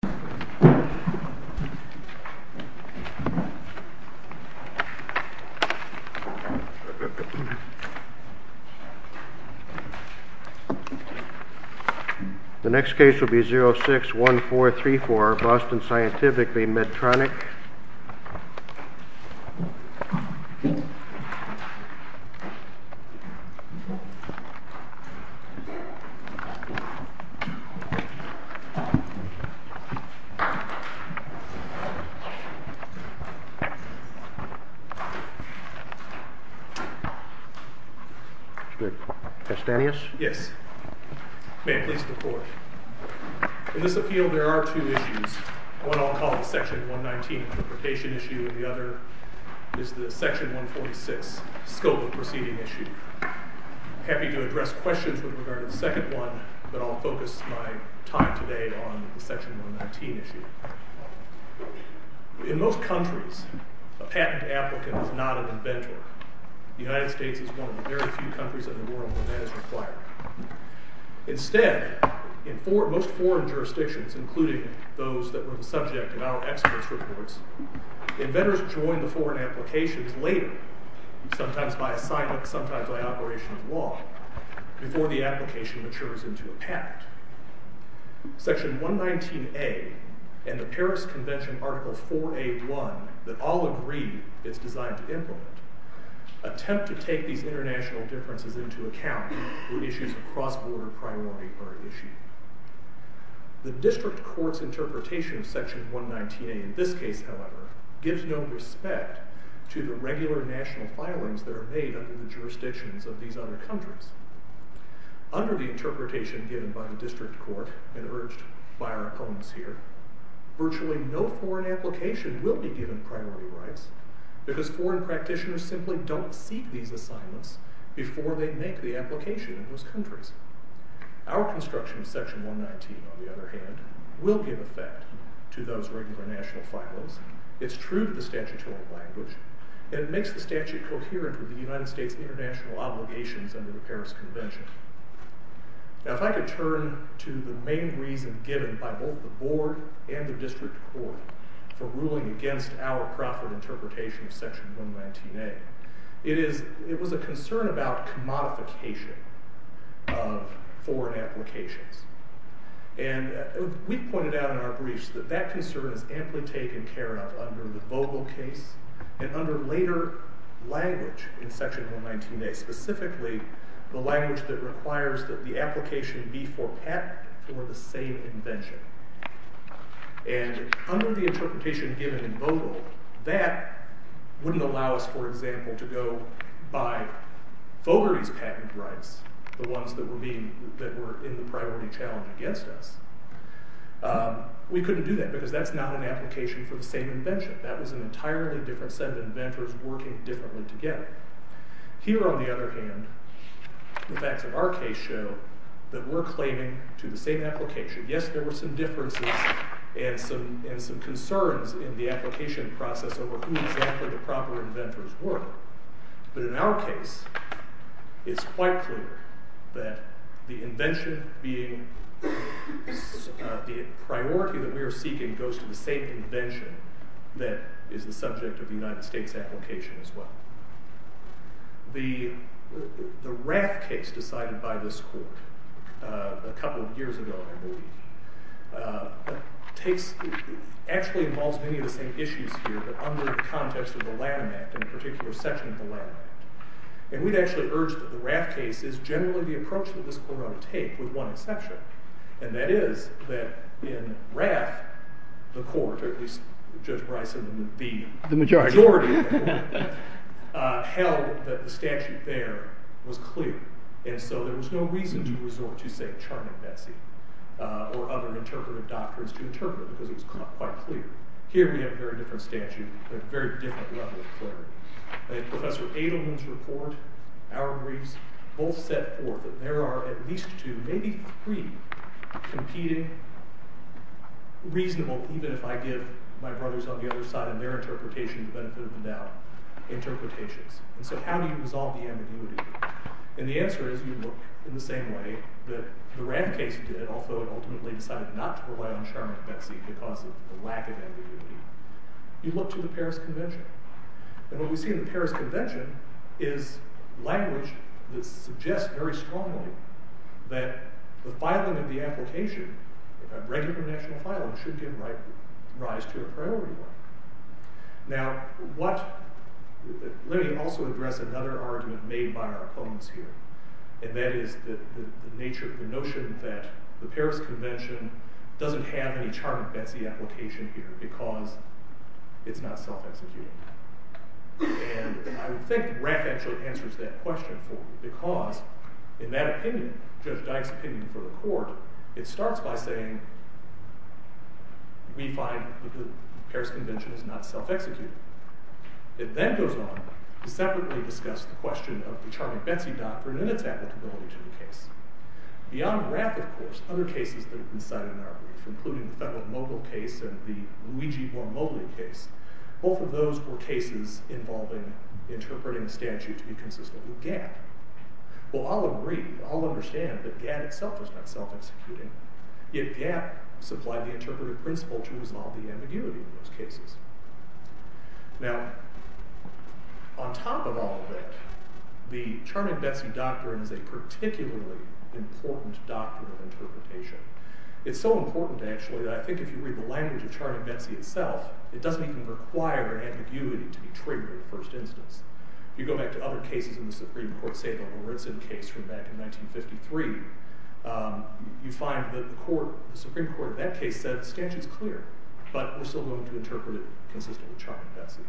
The next case will be 061434, Boston Scientific v. Medtronic. In this appeal there are two issues, one I'll call the section 119 interpretation issue and the other is the section 146 scope of proceeding issue. I'm happy to address questions with regard to the second one, but I'll focus my time today on the section 119 issue. In most countries, a patent applicant is not an inventor. The United States is one of the very few countries in the world where that is required. Instead, in most foreign jurisdictions, including those that were the subject of our experts' reports, inventors join the foreign applications later, sometimes by assignment, sometimes by operation of law, before the application matures into a patent. Section 119A and the Paris Convention Article 4A1, that all agree it's designed to implement, attempt to take these international differences into account when issues of cross-border priority are issued. The district court's interpretation of section 119A in this case, however, gives no respect to the regular national filings that are made under the jurisdictions of these other countries. Under the interpretation given by the district court and urged by our opponents here, virtually no foreign application will be given priority rights because foreign practitioners simply don't seek these assignments before they make the application in those countries. Our construction of section 119, on the other hand, will give effect to those regular national filings. It's true to the statutory language, and it makes the statute coherent with the United States' international obligations under the Paris Convention. Now, if I could turn to the main reason given by both the board and the district court for ruling against our Crawford interpretation of section 119A, it was a concern about commodification of foreign applications. And we pointed out in our briefs that that concern is amply taken care of under the Vogel case and under later language in section 119A, specifically the language that requires that the application be for patent for the same invention. And under the interpretation given in Vogel, that wouldn't allow us, for example, to go by Fogarty's patent rights, the ones that were in the priority challenge against us. We couldn't do that because that's not an application for the same invention. That was an entirely different set of inventors working differently together. Here, on the other hand, the facts of our case show that we're claiming to the same application. Yes, there were some differences and some concerns in the application process over who exactly the proper inventors were. But in our case, it's quite clear that the invention being, the priority that we are seeking goes to the same invention that is the subject of the United States application as well. The Raft case decided by this court a couple of years ago, I believe, actually involves many of the same issues here, but under the context of the Lanham Act, in a particular section of the Lanham Act. And we'd actually urge that the Raft case is generally the approach that this court ought to take, with one exception. And that is that in Raft, the court, or at least Judge Bryson, the majority of the court, held that the statute there was clear. And so there was no reason to resort to, say, Charming Betsy or other interpretive doctrines to interpret it, because it was quite clear. Here, we have a very different statute, a very different level of clarity. And Professor Adelman's report, our briefs, both set forth that there are at least two, maybe three, competing, reasonable, even if I give my brothers on the other side and their interpretation the benefit of the doubt, interpretations. And so how do you resolve the ambiguity? And the answer is you look in the same way that the Raft case did, although it ultimately decided not to rely on Charming Betsy because of the lack of ambiguity. You look to the Paris Convention. And what we see in the Paris Convention is language that suggests very strongly that the filing of the application, a regular national filing, should give rise to a priority one. Now, let me also address another argument made by our opponents here. And that is the notion that the Paris Convention doesn't have any Charming Betsy application here because it's not self-executing. And I would think Raft actually answers that question for you, because in that opinion, Judge Dyke's opinion for the court, it starts by saying we find that the Paris Convention is not self-executing. It then goes on to separately discuss the question of the Charming Betsy doctrine and its applicability to the case. Beyond Raft, of course, other cases that have been cited in our brief, including the Federal Mogul case and the Luigi Mormoli case, both of those were cases involving interpreting a statute to be consistent with GATT. Well, I'll agree. I'll understand that GATT itself is not self-executing. Yet GATT supplied the interpretive principle to resolve the ambiguity in those cases. Now, on top of all of that, the Charming Betsy doctrine is a particularly important doctrine of interpretation. It's so important, actually, that I think if you read the language of Charming Betsy itself, it doesn't even require ambiguity to be triggered in the first instance. If you go back to other cases in the Supreme Court, say the Horizen case from back in 1953, you find that the Supreme Court in that case said the statute's clear, but we're still going to interpret it consistent with Charming Betsy.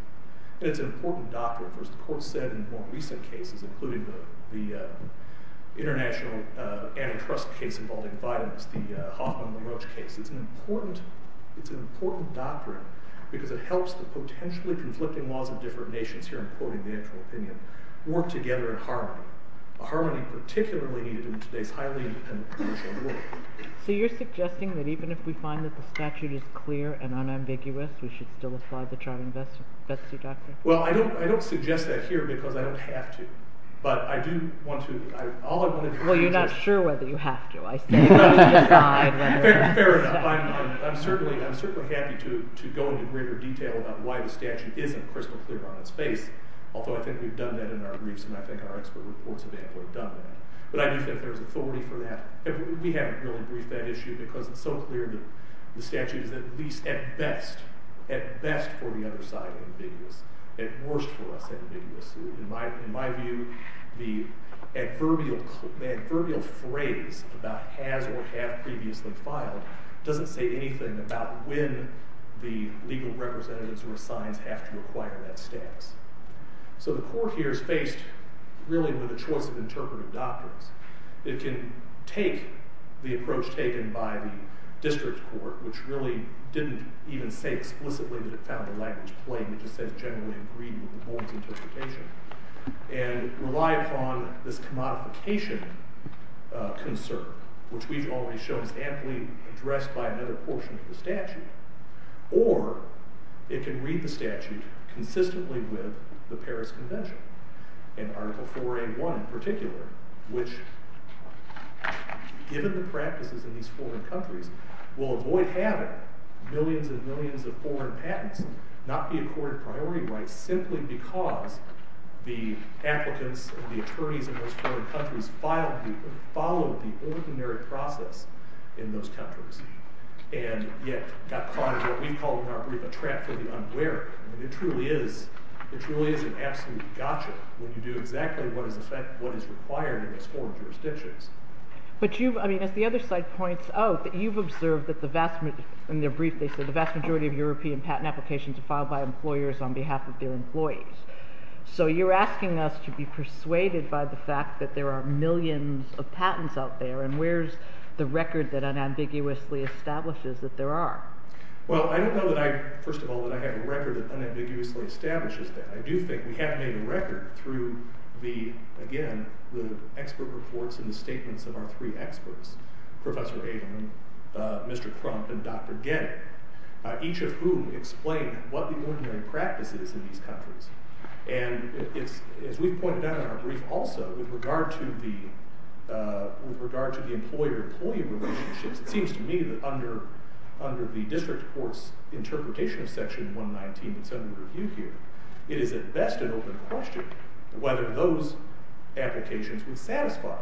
And it's an important doctrine. Of course, the Court said in more recent cases, including the international antitrust case involving vitamins, the Hoffman-LaRoche case, it's an important doctrine because it helps the potentially conflicting laws of different nations here, I'm quoting the actual opinion, work together in harmony. Harmony particularly needed in today's highly influential world. So you're suggesting that even if we find that the statute is clear and unambiguous, we should still apply the Charming Betsy doctrine? Well, I don't suggest that here because I don't have to. But I do want to... Well, you're not sure whether you have to. Fair enough. I'm certainly happy to go into greater detail about why the statute isn't crystal clear on its face, although I think we've done that in our briefs and I think our expert reports have done that. But I do think there's authority for that. We haven't really briefed that issue because it's so clear that the statute is at least at best, at best for the other side of ambiguous, at worst for us ambiguous. In my view, the adverbial phrase about has or have previously filed doesn't say anything about when the legal representatives who are assigned have to acquire that status. So the court here is faced really with a choice of interpretive doctrines. It can take the approach taken by the district court, which really didn't even say explicitly that it found the language plain. It just says generally agreed with the board's interpretation. And rely upon this commodification concern, which we've already shown is aptly addressed by another portion of the statute. Or it can read the statute consistently with the Paris Convention and Article 4A1 in particular, which given the practices in these foreign countries, will avoid having millions and millions of foreign patents not be accorded priority rights simply because the applicants and the attorneys in those foreign countries followed the ordinary process in those countries and yet got caught in what we call in our brief a trap for the unwary. It truly is an absolute gotcha when you do exactly what is required in those foreign jurisdictions. But you've, I mean, as the other side points out, that you've observed that the vast majority, in their brief they said, the vast majority of European patent applications are filed by employers on behalf of their employees. So you're asking us to be persuaded by the fact that there are millions of patents out there, and where's the record that unambiguously establishes that there are? Well, I don't know that I, first of all, that I have a record that unambiguously establishes that. I do think we have made a record through the, again, the expert reports and the statements of our three experts, Professor Avon, Mr. Crump, and Dr. Getty, each of whom explain what the ordinary practice is in these countries. And it's, as we've pointed out in our brief also, with regard to the employer-employee relationships, it seems to me that under the district court's interpretation of Section 119 that's under review here, it is at best an open question whether those applications would satisfy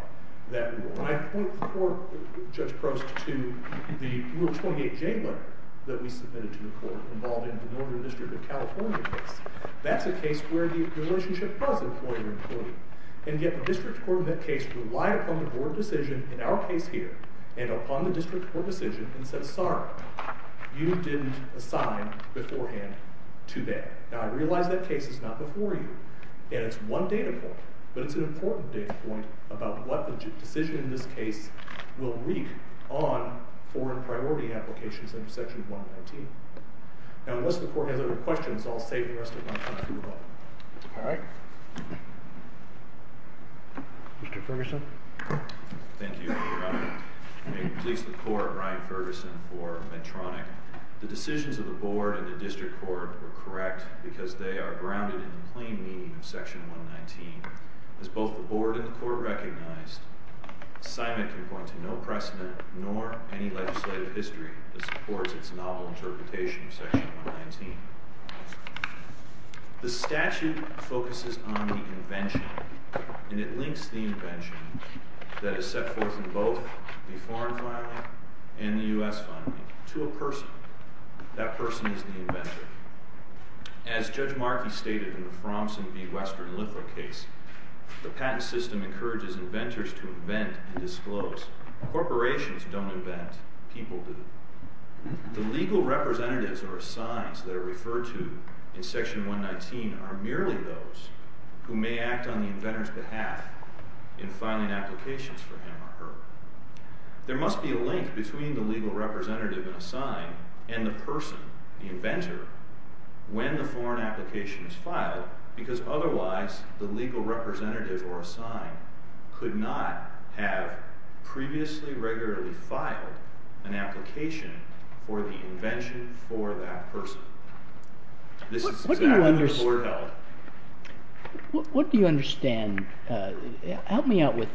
that rule. And I point before Judge Prost to the Rule 28J letter that we submitted to the court involving the Northern District of California case. That's a case where the relationship was employer-employee. And yet the district court in that case relied upon the board decision in our case here, and upon the district court decision, and said, sorry, you didn't assign beforehand to that. Now, I realize that case is not before you, and it's one data point, but it's an important data point about what the decision in this case will read on foreign priority applications under Section 119. Now, unless the court has other questions, I'll save the rest of my time for the vote. All right. Mr. Ferguson. Thank you, Your Honor. May it please the court, Ryan Ferguson for Medtronic. The decisions of the board and the district court were correct because they are grounded in the plain meaning of Section 119. As both the board and the court recognized, assignment can point to no precedent nor any towards its novel interpretation of Section 119. The statute focuses on the invention, and it links the invention that is set forth in both the foreign filing and the U.S. filing to a person. That person is the inventor. As Judge Markey stated in the Frommsen v. Western Lithow case, the patent system encourages inventors to invent and disclose. Corporations don't invent. People do. The legal representatives or assigns that are referred to in Section 119 are merely those who may act on the inventor's behalf in filing applications for him or her. There must be a link between the legal representative and assign and the person, the inventor, when the foreign application is filed because otherwise the legal representative or assign could not have previously regularly filed an application for the invention for that person. This is exactly the board held. What do you understand? Help me out with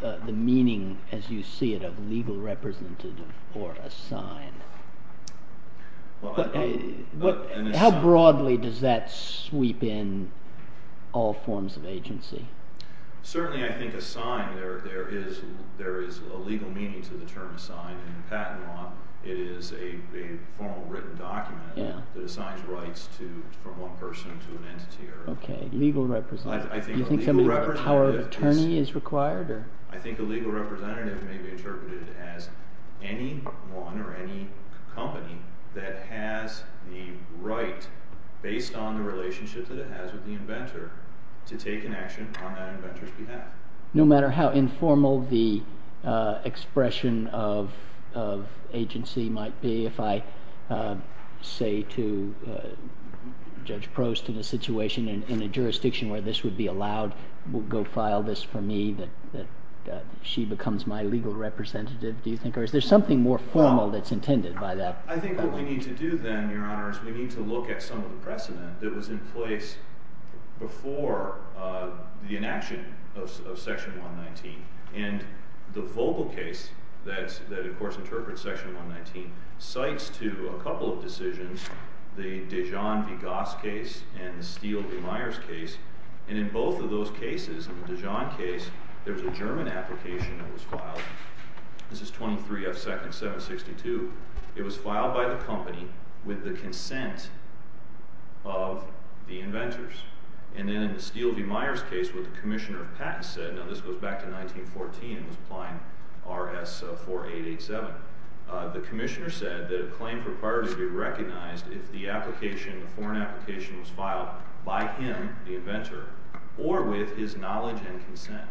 the meaning, as you see it, of legal representative or assign. How broadly does that sweep in all forms of agency? Certainly, I think assign, there is a legal meaning to the term assign. In patent law, it is a formal written document that assigns rights from one person to an entity. Okay, legal representative. Do you think some kind of power of attorney is required? I think a legal representative may be interpreted as anyone or any company that has the right, based on the relationship that it has with the inventor, to take an action on that inventor's behalf. No matter how informal the expression of agency might be, if I say to Judge Prost in a situation in a jurisdiction where this would be allowed, we'll go file this for me, that she becomes my legal representative, do you think, or is there something more formal that's intended by that? I think what we need to do then, Your Honor, is we need to look at some of the precedent that was in place before the inaction of Section 119. And the Vogel case, that of course interprets Section 119, cites to a couple of decisions, the Dijon v. Goss case and the Steele v. Myers case, and in both of those cases, in the Dijon case, there's a German application that was filed. This is 23 F. 2nd 762. It was filed by the company with the consent of the inventors. And then in the Steele v. Myers case, what the Commissioner of Patents said, now this goes back to 1914, it was Applying RS 4887. The Commissioner said that a claim for priority would be recognized if the application, the foreign application, was filed by him, the inventor, or with his knowledge and consent.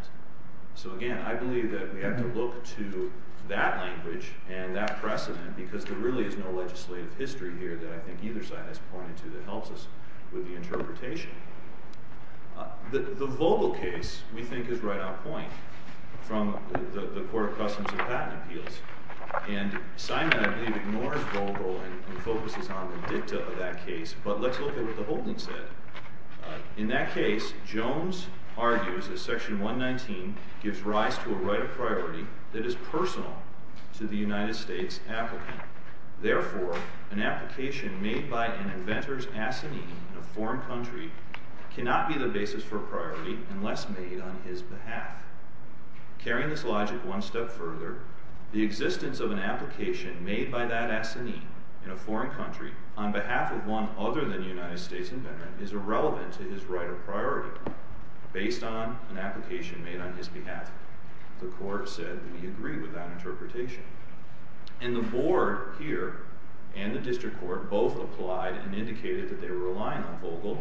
So again, I believe that we have to look to that language and that precedent because there really is no legislative history here that I think either side has pointed to that helps us with the interpretation. The Vogel case, we think, is right on point from the Court of Customs and Patent Appeals. And Simon, I believe, ignores Vogel and focuses on the dicta of that case, but let's look at what the holding said. In that case, Jones argues that Section 119 gives rise to a right of priority that is personal to the United States applicant. Therefore, an application made by an inventor's assignee in a foreign country cannot be the basis for priority unless made on his behalf. Carrying this logic one step further, the existence of an application made by that assignee in a foreign country on behalf of one other than the United States inventor is irrelevant to his right of priority. Based on an application made on his behalf, the Court said we agree with that interpretation. And the Board here and the District Court both applied and indicated that they were relying on Vogel,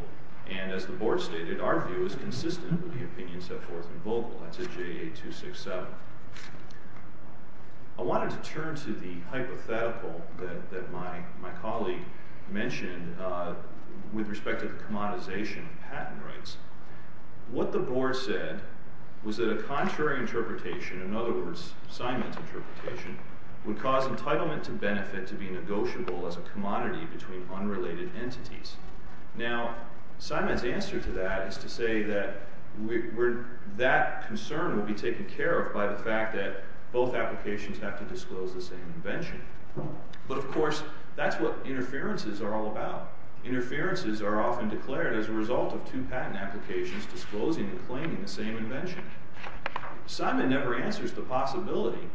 and as the Board stated, our view is consistent with the opinions set forth in Vogel. That's a JA-267. I wanted to turn to the hypothetical that my colleague mentioned with respect to the commoditization of patent rights. What the Board said was that a contrary interpretation, in other words, Simon's interpretation, would cause entitlement to benefit to be negotiable as a commodity between unrelated entities. Now, Simon's answer to that is to say that concern will be taken care of by the fact that both applications have to disclose the same invention. But, of course, that's what interferences are all about. Interferences are often declared as a result of two patent applications disclosing and claiming the same invention. Simon never answers the possibility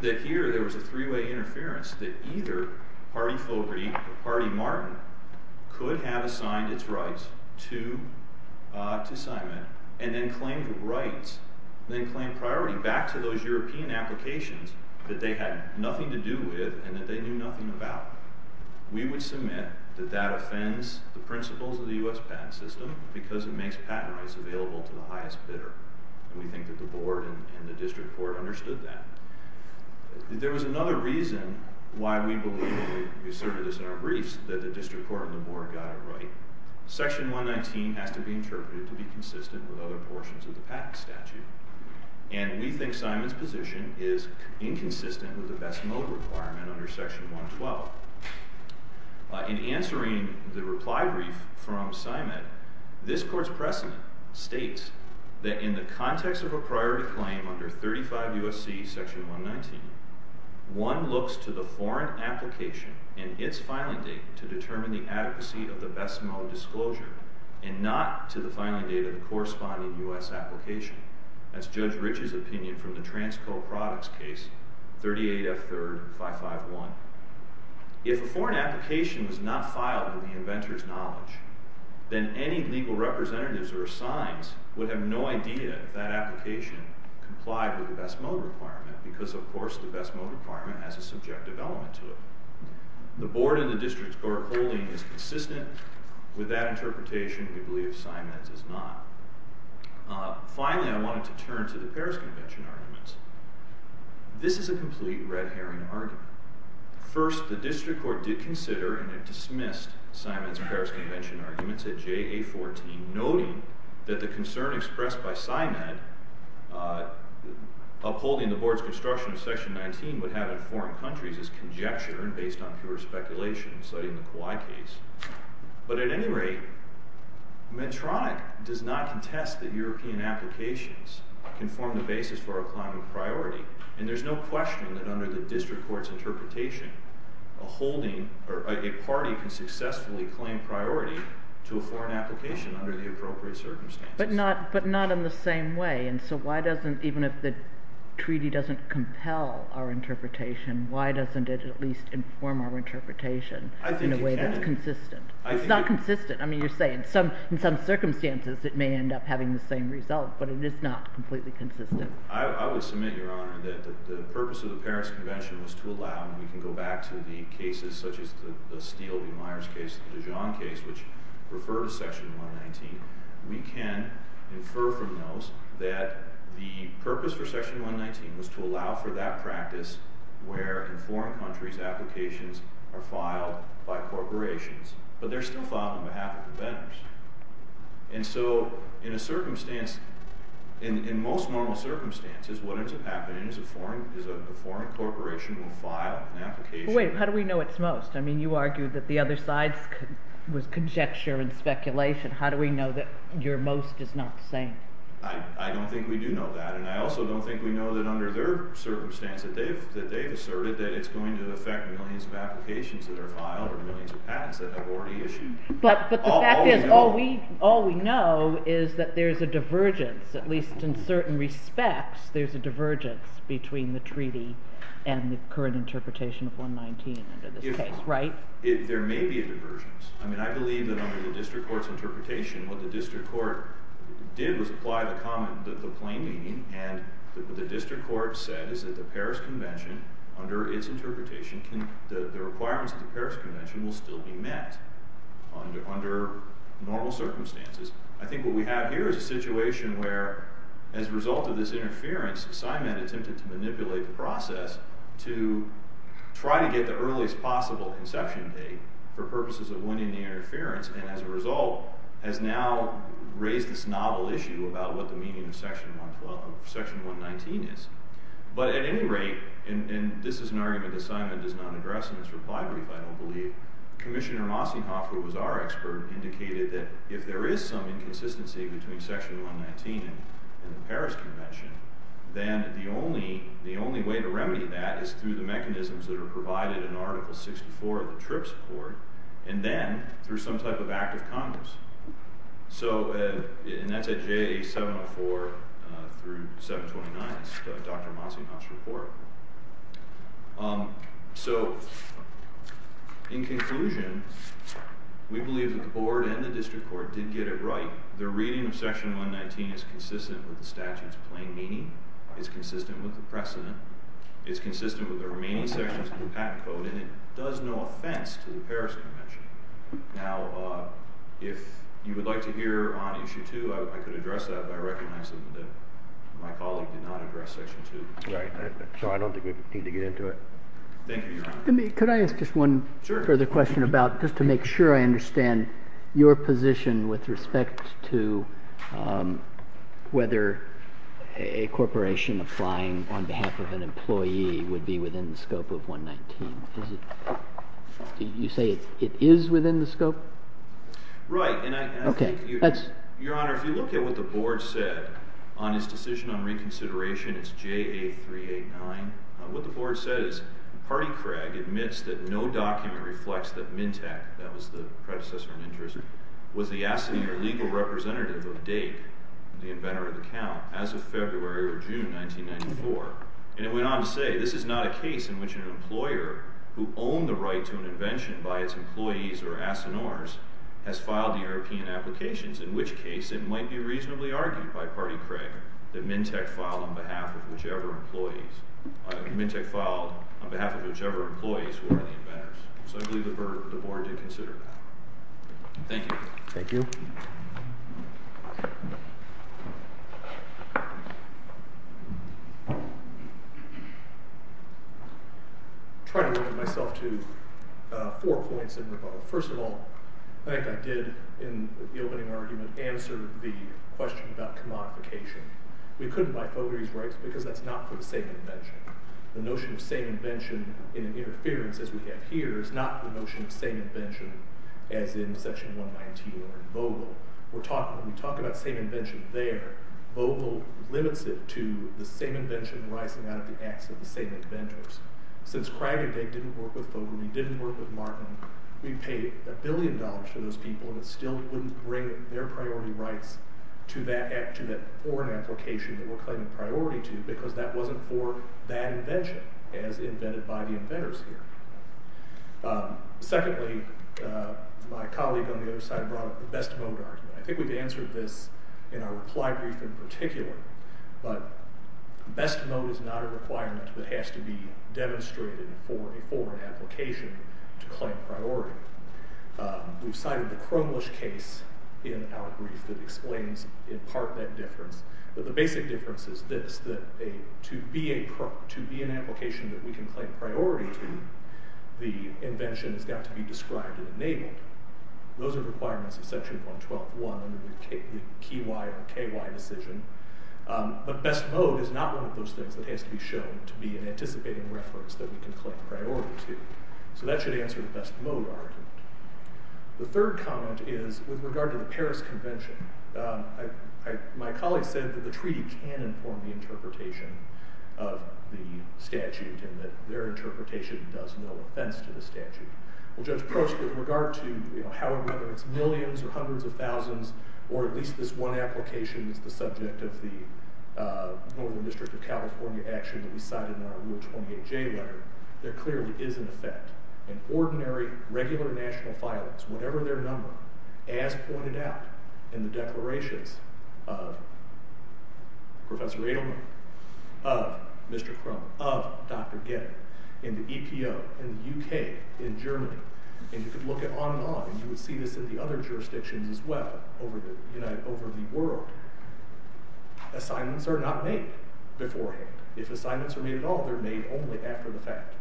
that here there was a three-way interference that either party Fogarty or party Martin could have assigned its rights to Simon and then claimed priority back to those European applications that they had nothing to do with and that they knew nothing about. We would submit that that offends the principles of the U.S. patent system because it makes patent rights available to the highest bidder. We think that the Board and the District Court understood that. There was another reason why we asserted this in our briefs, that the District Court and the Board got it right. Section 119 has to be interpreted to be consistent with other portions of the patent statute. And we think Simon's position is inconsistent with the best mode requirement under Section 112. In answering the reply brief from Simon, this Court's precedent states that in the context of a priority claim under 35 U.S.C. Section 119, one looks to the foreign application and its filing date to determine the adequacy of the best mode disclosure and not to the filing date of the corresponding U.S. application. That's Judge Rich's opinion from the Transco Products case 38F3-551. If a foreign application was not filed with the inventor's knowledge, then any legal representatives or assigns would have no idea that that application complied with the best mode requirement because, of course, the best mode requirement has a subjective element to it. The Board and the District Court holding it consistent with that interpretation, we believe Simon's does not. Finally, I wanted to turn to the Paris Convention arguments. This is a complete red herring argument. First, the District Court did consider and dismissed Simon's Paris Convention arguments at JA14, noting that the concern expressed by Simon that upholding the Board's construction of Section 119 would have in foreign countries is conjecture and based on pure speculation, citing the Kawai case. But at any rate, Medtronic does not contest that European applications can form the basis for a climate priority, and there's no question that under the District Court's interpretation, a party can successfully claim priority to a foreign application under the appropriate circumstances. But not in the same way. And so why doesn't, even if the treaty doesn't compel our interpretation, why doesn't it at least inform our interpretation in a way that's consistent? It's not consistent. I mean, you're saying in some circumstances it may end up having the same result, but it is not completely consistent. I would submit, Your Honor, that the purpose of the Paris Convention was to allow, and we can go back to the cases such as the Steele v. Myers case, the Dijon case, which refer to Section 119. We can infer from those that the purpose for Section 119 was to allow for that practice where in foreign countries applications are filed by corporations, but they're still filed on behalf of the vendors. And so in a circumstance, in most normal circumstances, what ends up happening is a foreign corporation will file an application. Wait, how do we know it's most? I mean, you argued that the other side was conjecture and speculation. How do we know that your most is not the same? I don't think we do know that, and I also don't think we know that under their circumstance that they've asserted that it's going to affect millions of applications that are filed or millions of patents that have already issued. But the fact is all we know is that there's a divergence, at least in certain respects there's a divergence between the treaty and the current interpretation of 119 under this case, right? There may be a divergence. I mean, I believe that under the district court's interpretation, what the district court did was apply the plain meaning, and what the district court said is that the Paris Convention, under its interpretation, the requirements of the Paris Convention will still be met under normal circumstances. I think what we have here is a situation where as a result of this interference, Simon attempted to manipulate the process to try to get the earliest possible inception date for purposes of winning the interference, and as a result has now raised this novel issue about what the meaning of Section 119 is. But at any rate, and this is an argument that Simon does not address in his reply brief, I don't believe, Commissioner Mossehoff, who was our expert, indicated that if there is some inconsistency between Section 119 and the Paris Convention, then the only way to remedy that is through the mechanisms that are provided in Article 64 of the TRIPS report, and then through some type of act of Congress. So, and that's at JA 704 through 729, that's Dr. Mossehoff's report. So, in conclusion, we believe that the board and the district court did get it right. Their reading of Section 119 is consistent with the statute's plain meaning. It's consistent with the precedent. It's consistent with the remaining sections of the patent code, and it does no offense to the Paris Convention. Now, if you would like to hear on Issue 2, I could address that by recognizing that my colleague did not address Section 2. Right, so I don't think we need to get into it. Thank you, Your Honor. Could I ask just one further question about, just to make sure I understand your position with respect to whether a corporation applying on behalf of an employee would be within the scope of 119. You say it is within the scope? Right, and I think, Your Honor, if you look at what the board said on its decision on reconsideration, it's JA 389. What the board said is, Party Craig admits that no document reflects that Mintak, that was the predecessor of Mintris, was the assignee or legal representative of Dake, the inventor of the account, as of February or June 1994. And it went on to say, this is not a case in which an employer who owned the right to an invention by its employees or assineurs has filed the European applications, in which case it might be reasonably argued by Party Craig that Mintak filed on behalf of whichever employees were the inventors. So I believe the board did consider that. Thank you. I'll try to limit myself to four points in rebuttal. First of all, I think I did, in the opening argument, answer the question about commodification. We couldn't buy Fogarty's rights because that's not for the same invention. The notion of same invention in an interference as we have here is not the notion of same invention as in Section 119 or in Vogel. When we talk about same invention there, Vogel limits it to the same invention rising out of the acts of the same inventors. Since Craig and Dake didn't work with Fogarty, didn't work with Martin, we paid a billion dollars to those people and it still wouldn't bring their priority rights to that foreign application that we're claiming priority to because that wasn't for that invention as invented by the inventors here. Secondly, my colleague on the other side brought up the best mode argument. I think we've answered this in our reply brief in particular, but best mode is not a requirement that has to be demonstrated for a foreign application to claim priority. We've cited the Crumlish case in our brief that explains in part that difference, but the basic difference is this, that to be an application that we can claim priority to, the invention has got to be described and enabled. Those are requirements of Section 112.1 under the key wire KY decision, but best mode is not one of those things that has to be shown to be an anticipating reference that we can claim priority to. So that should answer the best mode argument. The third comment is with regard to the Paris Convention. My colleague said that the treaty can inform the interpretation of the statute and that their interpretation does no offense to the statute. Well, Judge Prost, with regard to whether it's millions or hundreds of thousands or at least this one application that's the subject of the Northern District of California action that we cited in our Rule 28J letter, there clearly is an effect. In ordinary, regular national filings, as pointed out in the declarations of Professor Adelman, of Mr. Crumb, of Dr. Getty, in the EPO, in the UK, in Germany, and you could look at on and on and you would see this in the other jurisdictions as well over the world. Assignments are not made beforehand. If assignments are made at all, they're made only after the fact.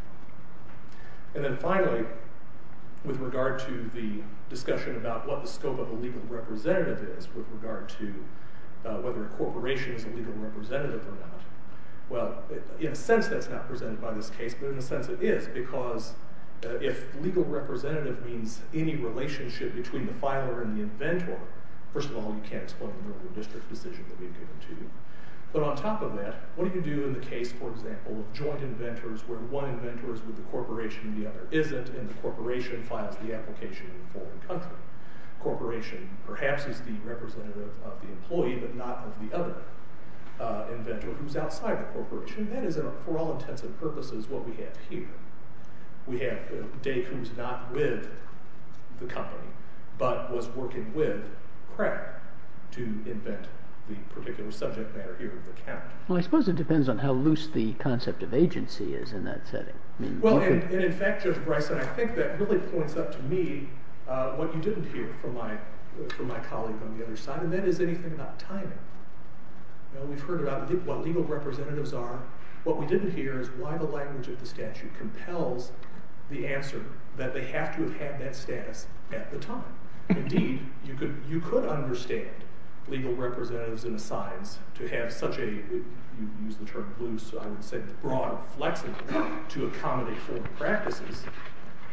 And then finally, with regard to the discussion about what the scope of a legal representative is with regard to whether a corporation is a legal representative or not, well, in a sense that's not presented by this case, but in a sense it is, because if legal representative means any relationship between the filer and the inventor, first of all, you can't explain the Northern District decision that we've given to you. But on top of that, what do you do in the case, for example, of joint inventors where one inventor is with the corporation and the other isn't and the corporation files the application in a foreign country? The corporation perhaps is the representative of the employee, but not of the other inventor who's outside the corporation. And that is, for all intents and purposes, what we have here. We have Dave who's not with the company, but was working with Pratt to invent the particular subject matter here, the count. Well, I suppose it depends on how loose the concept of agency is in that setting. Well, and in fact, Judge Bryson, I think that really points out to me what you didn't hear from my colleague on the other side, and that is anything about timing. We've heard about what legal representatives are. What we didn't hear is why the language of the statute compels the answer that they have to have had that status at the time. Indeed, you could understand legal representatives in the science to have such a, you use the term loose, I would say broad, flexible, to accommodate formal practices,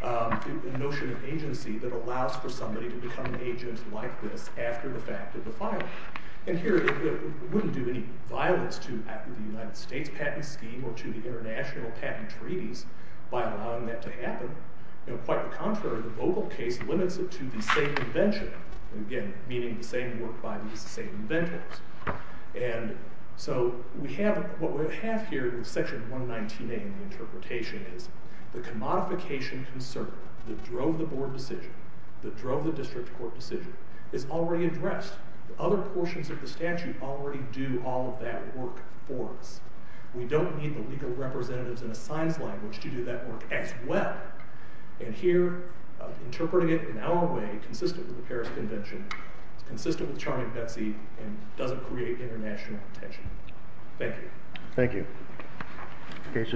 the notion of agency that allows for somebody to become an agent like this after the fact of the filing. And here, it wouldn't do any violence to the United States patent scheme or to the international patent treaties by allowing that to happen. Quite the contrary, the Vogel case limits it to the same invention, again, meaning the same work by these same inventors. And so what we have here in Section 119A in the interpretation is the commodification concern that drove the board decision, that drove the district court decision, is already addressed. Other portions of the statute already do all of that work for us. We don't need the legal representatives in a science language to do that work as well. And here, interpreting it in our way, consistent with the Paris Convention, consistent with Charlie and Betsy, and doesn't create international tension. Thank you. Thank you. Case is submitted.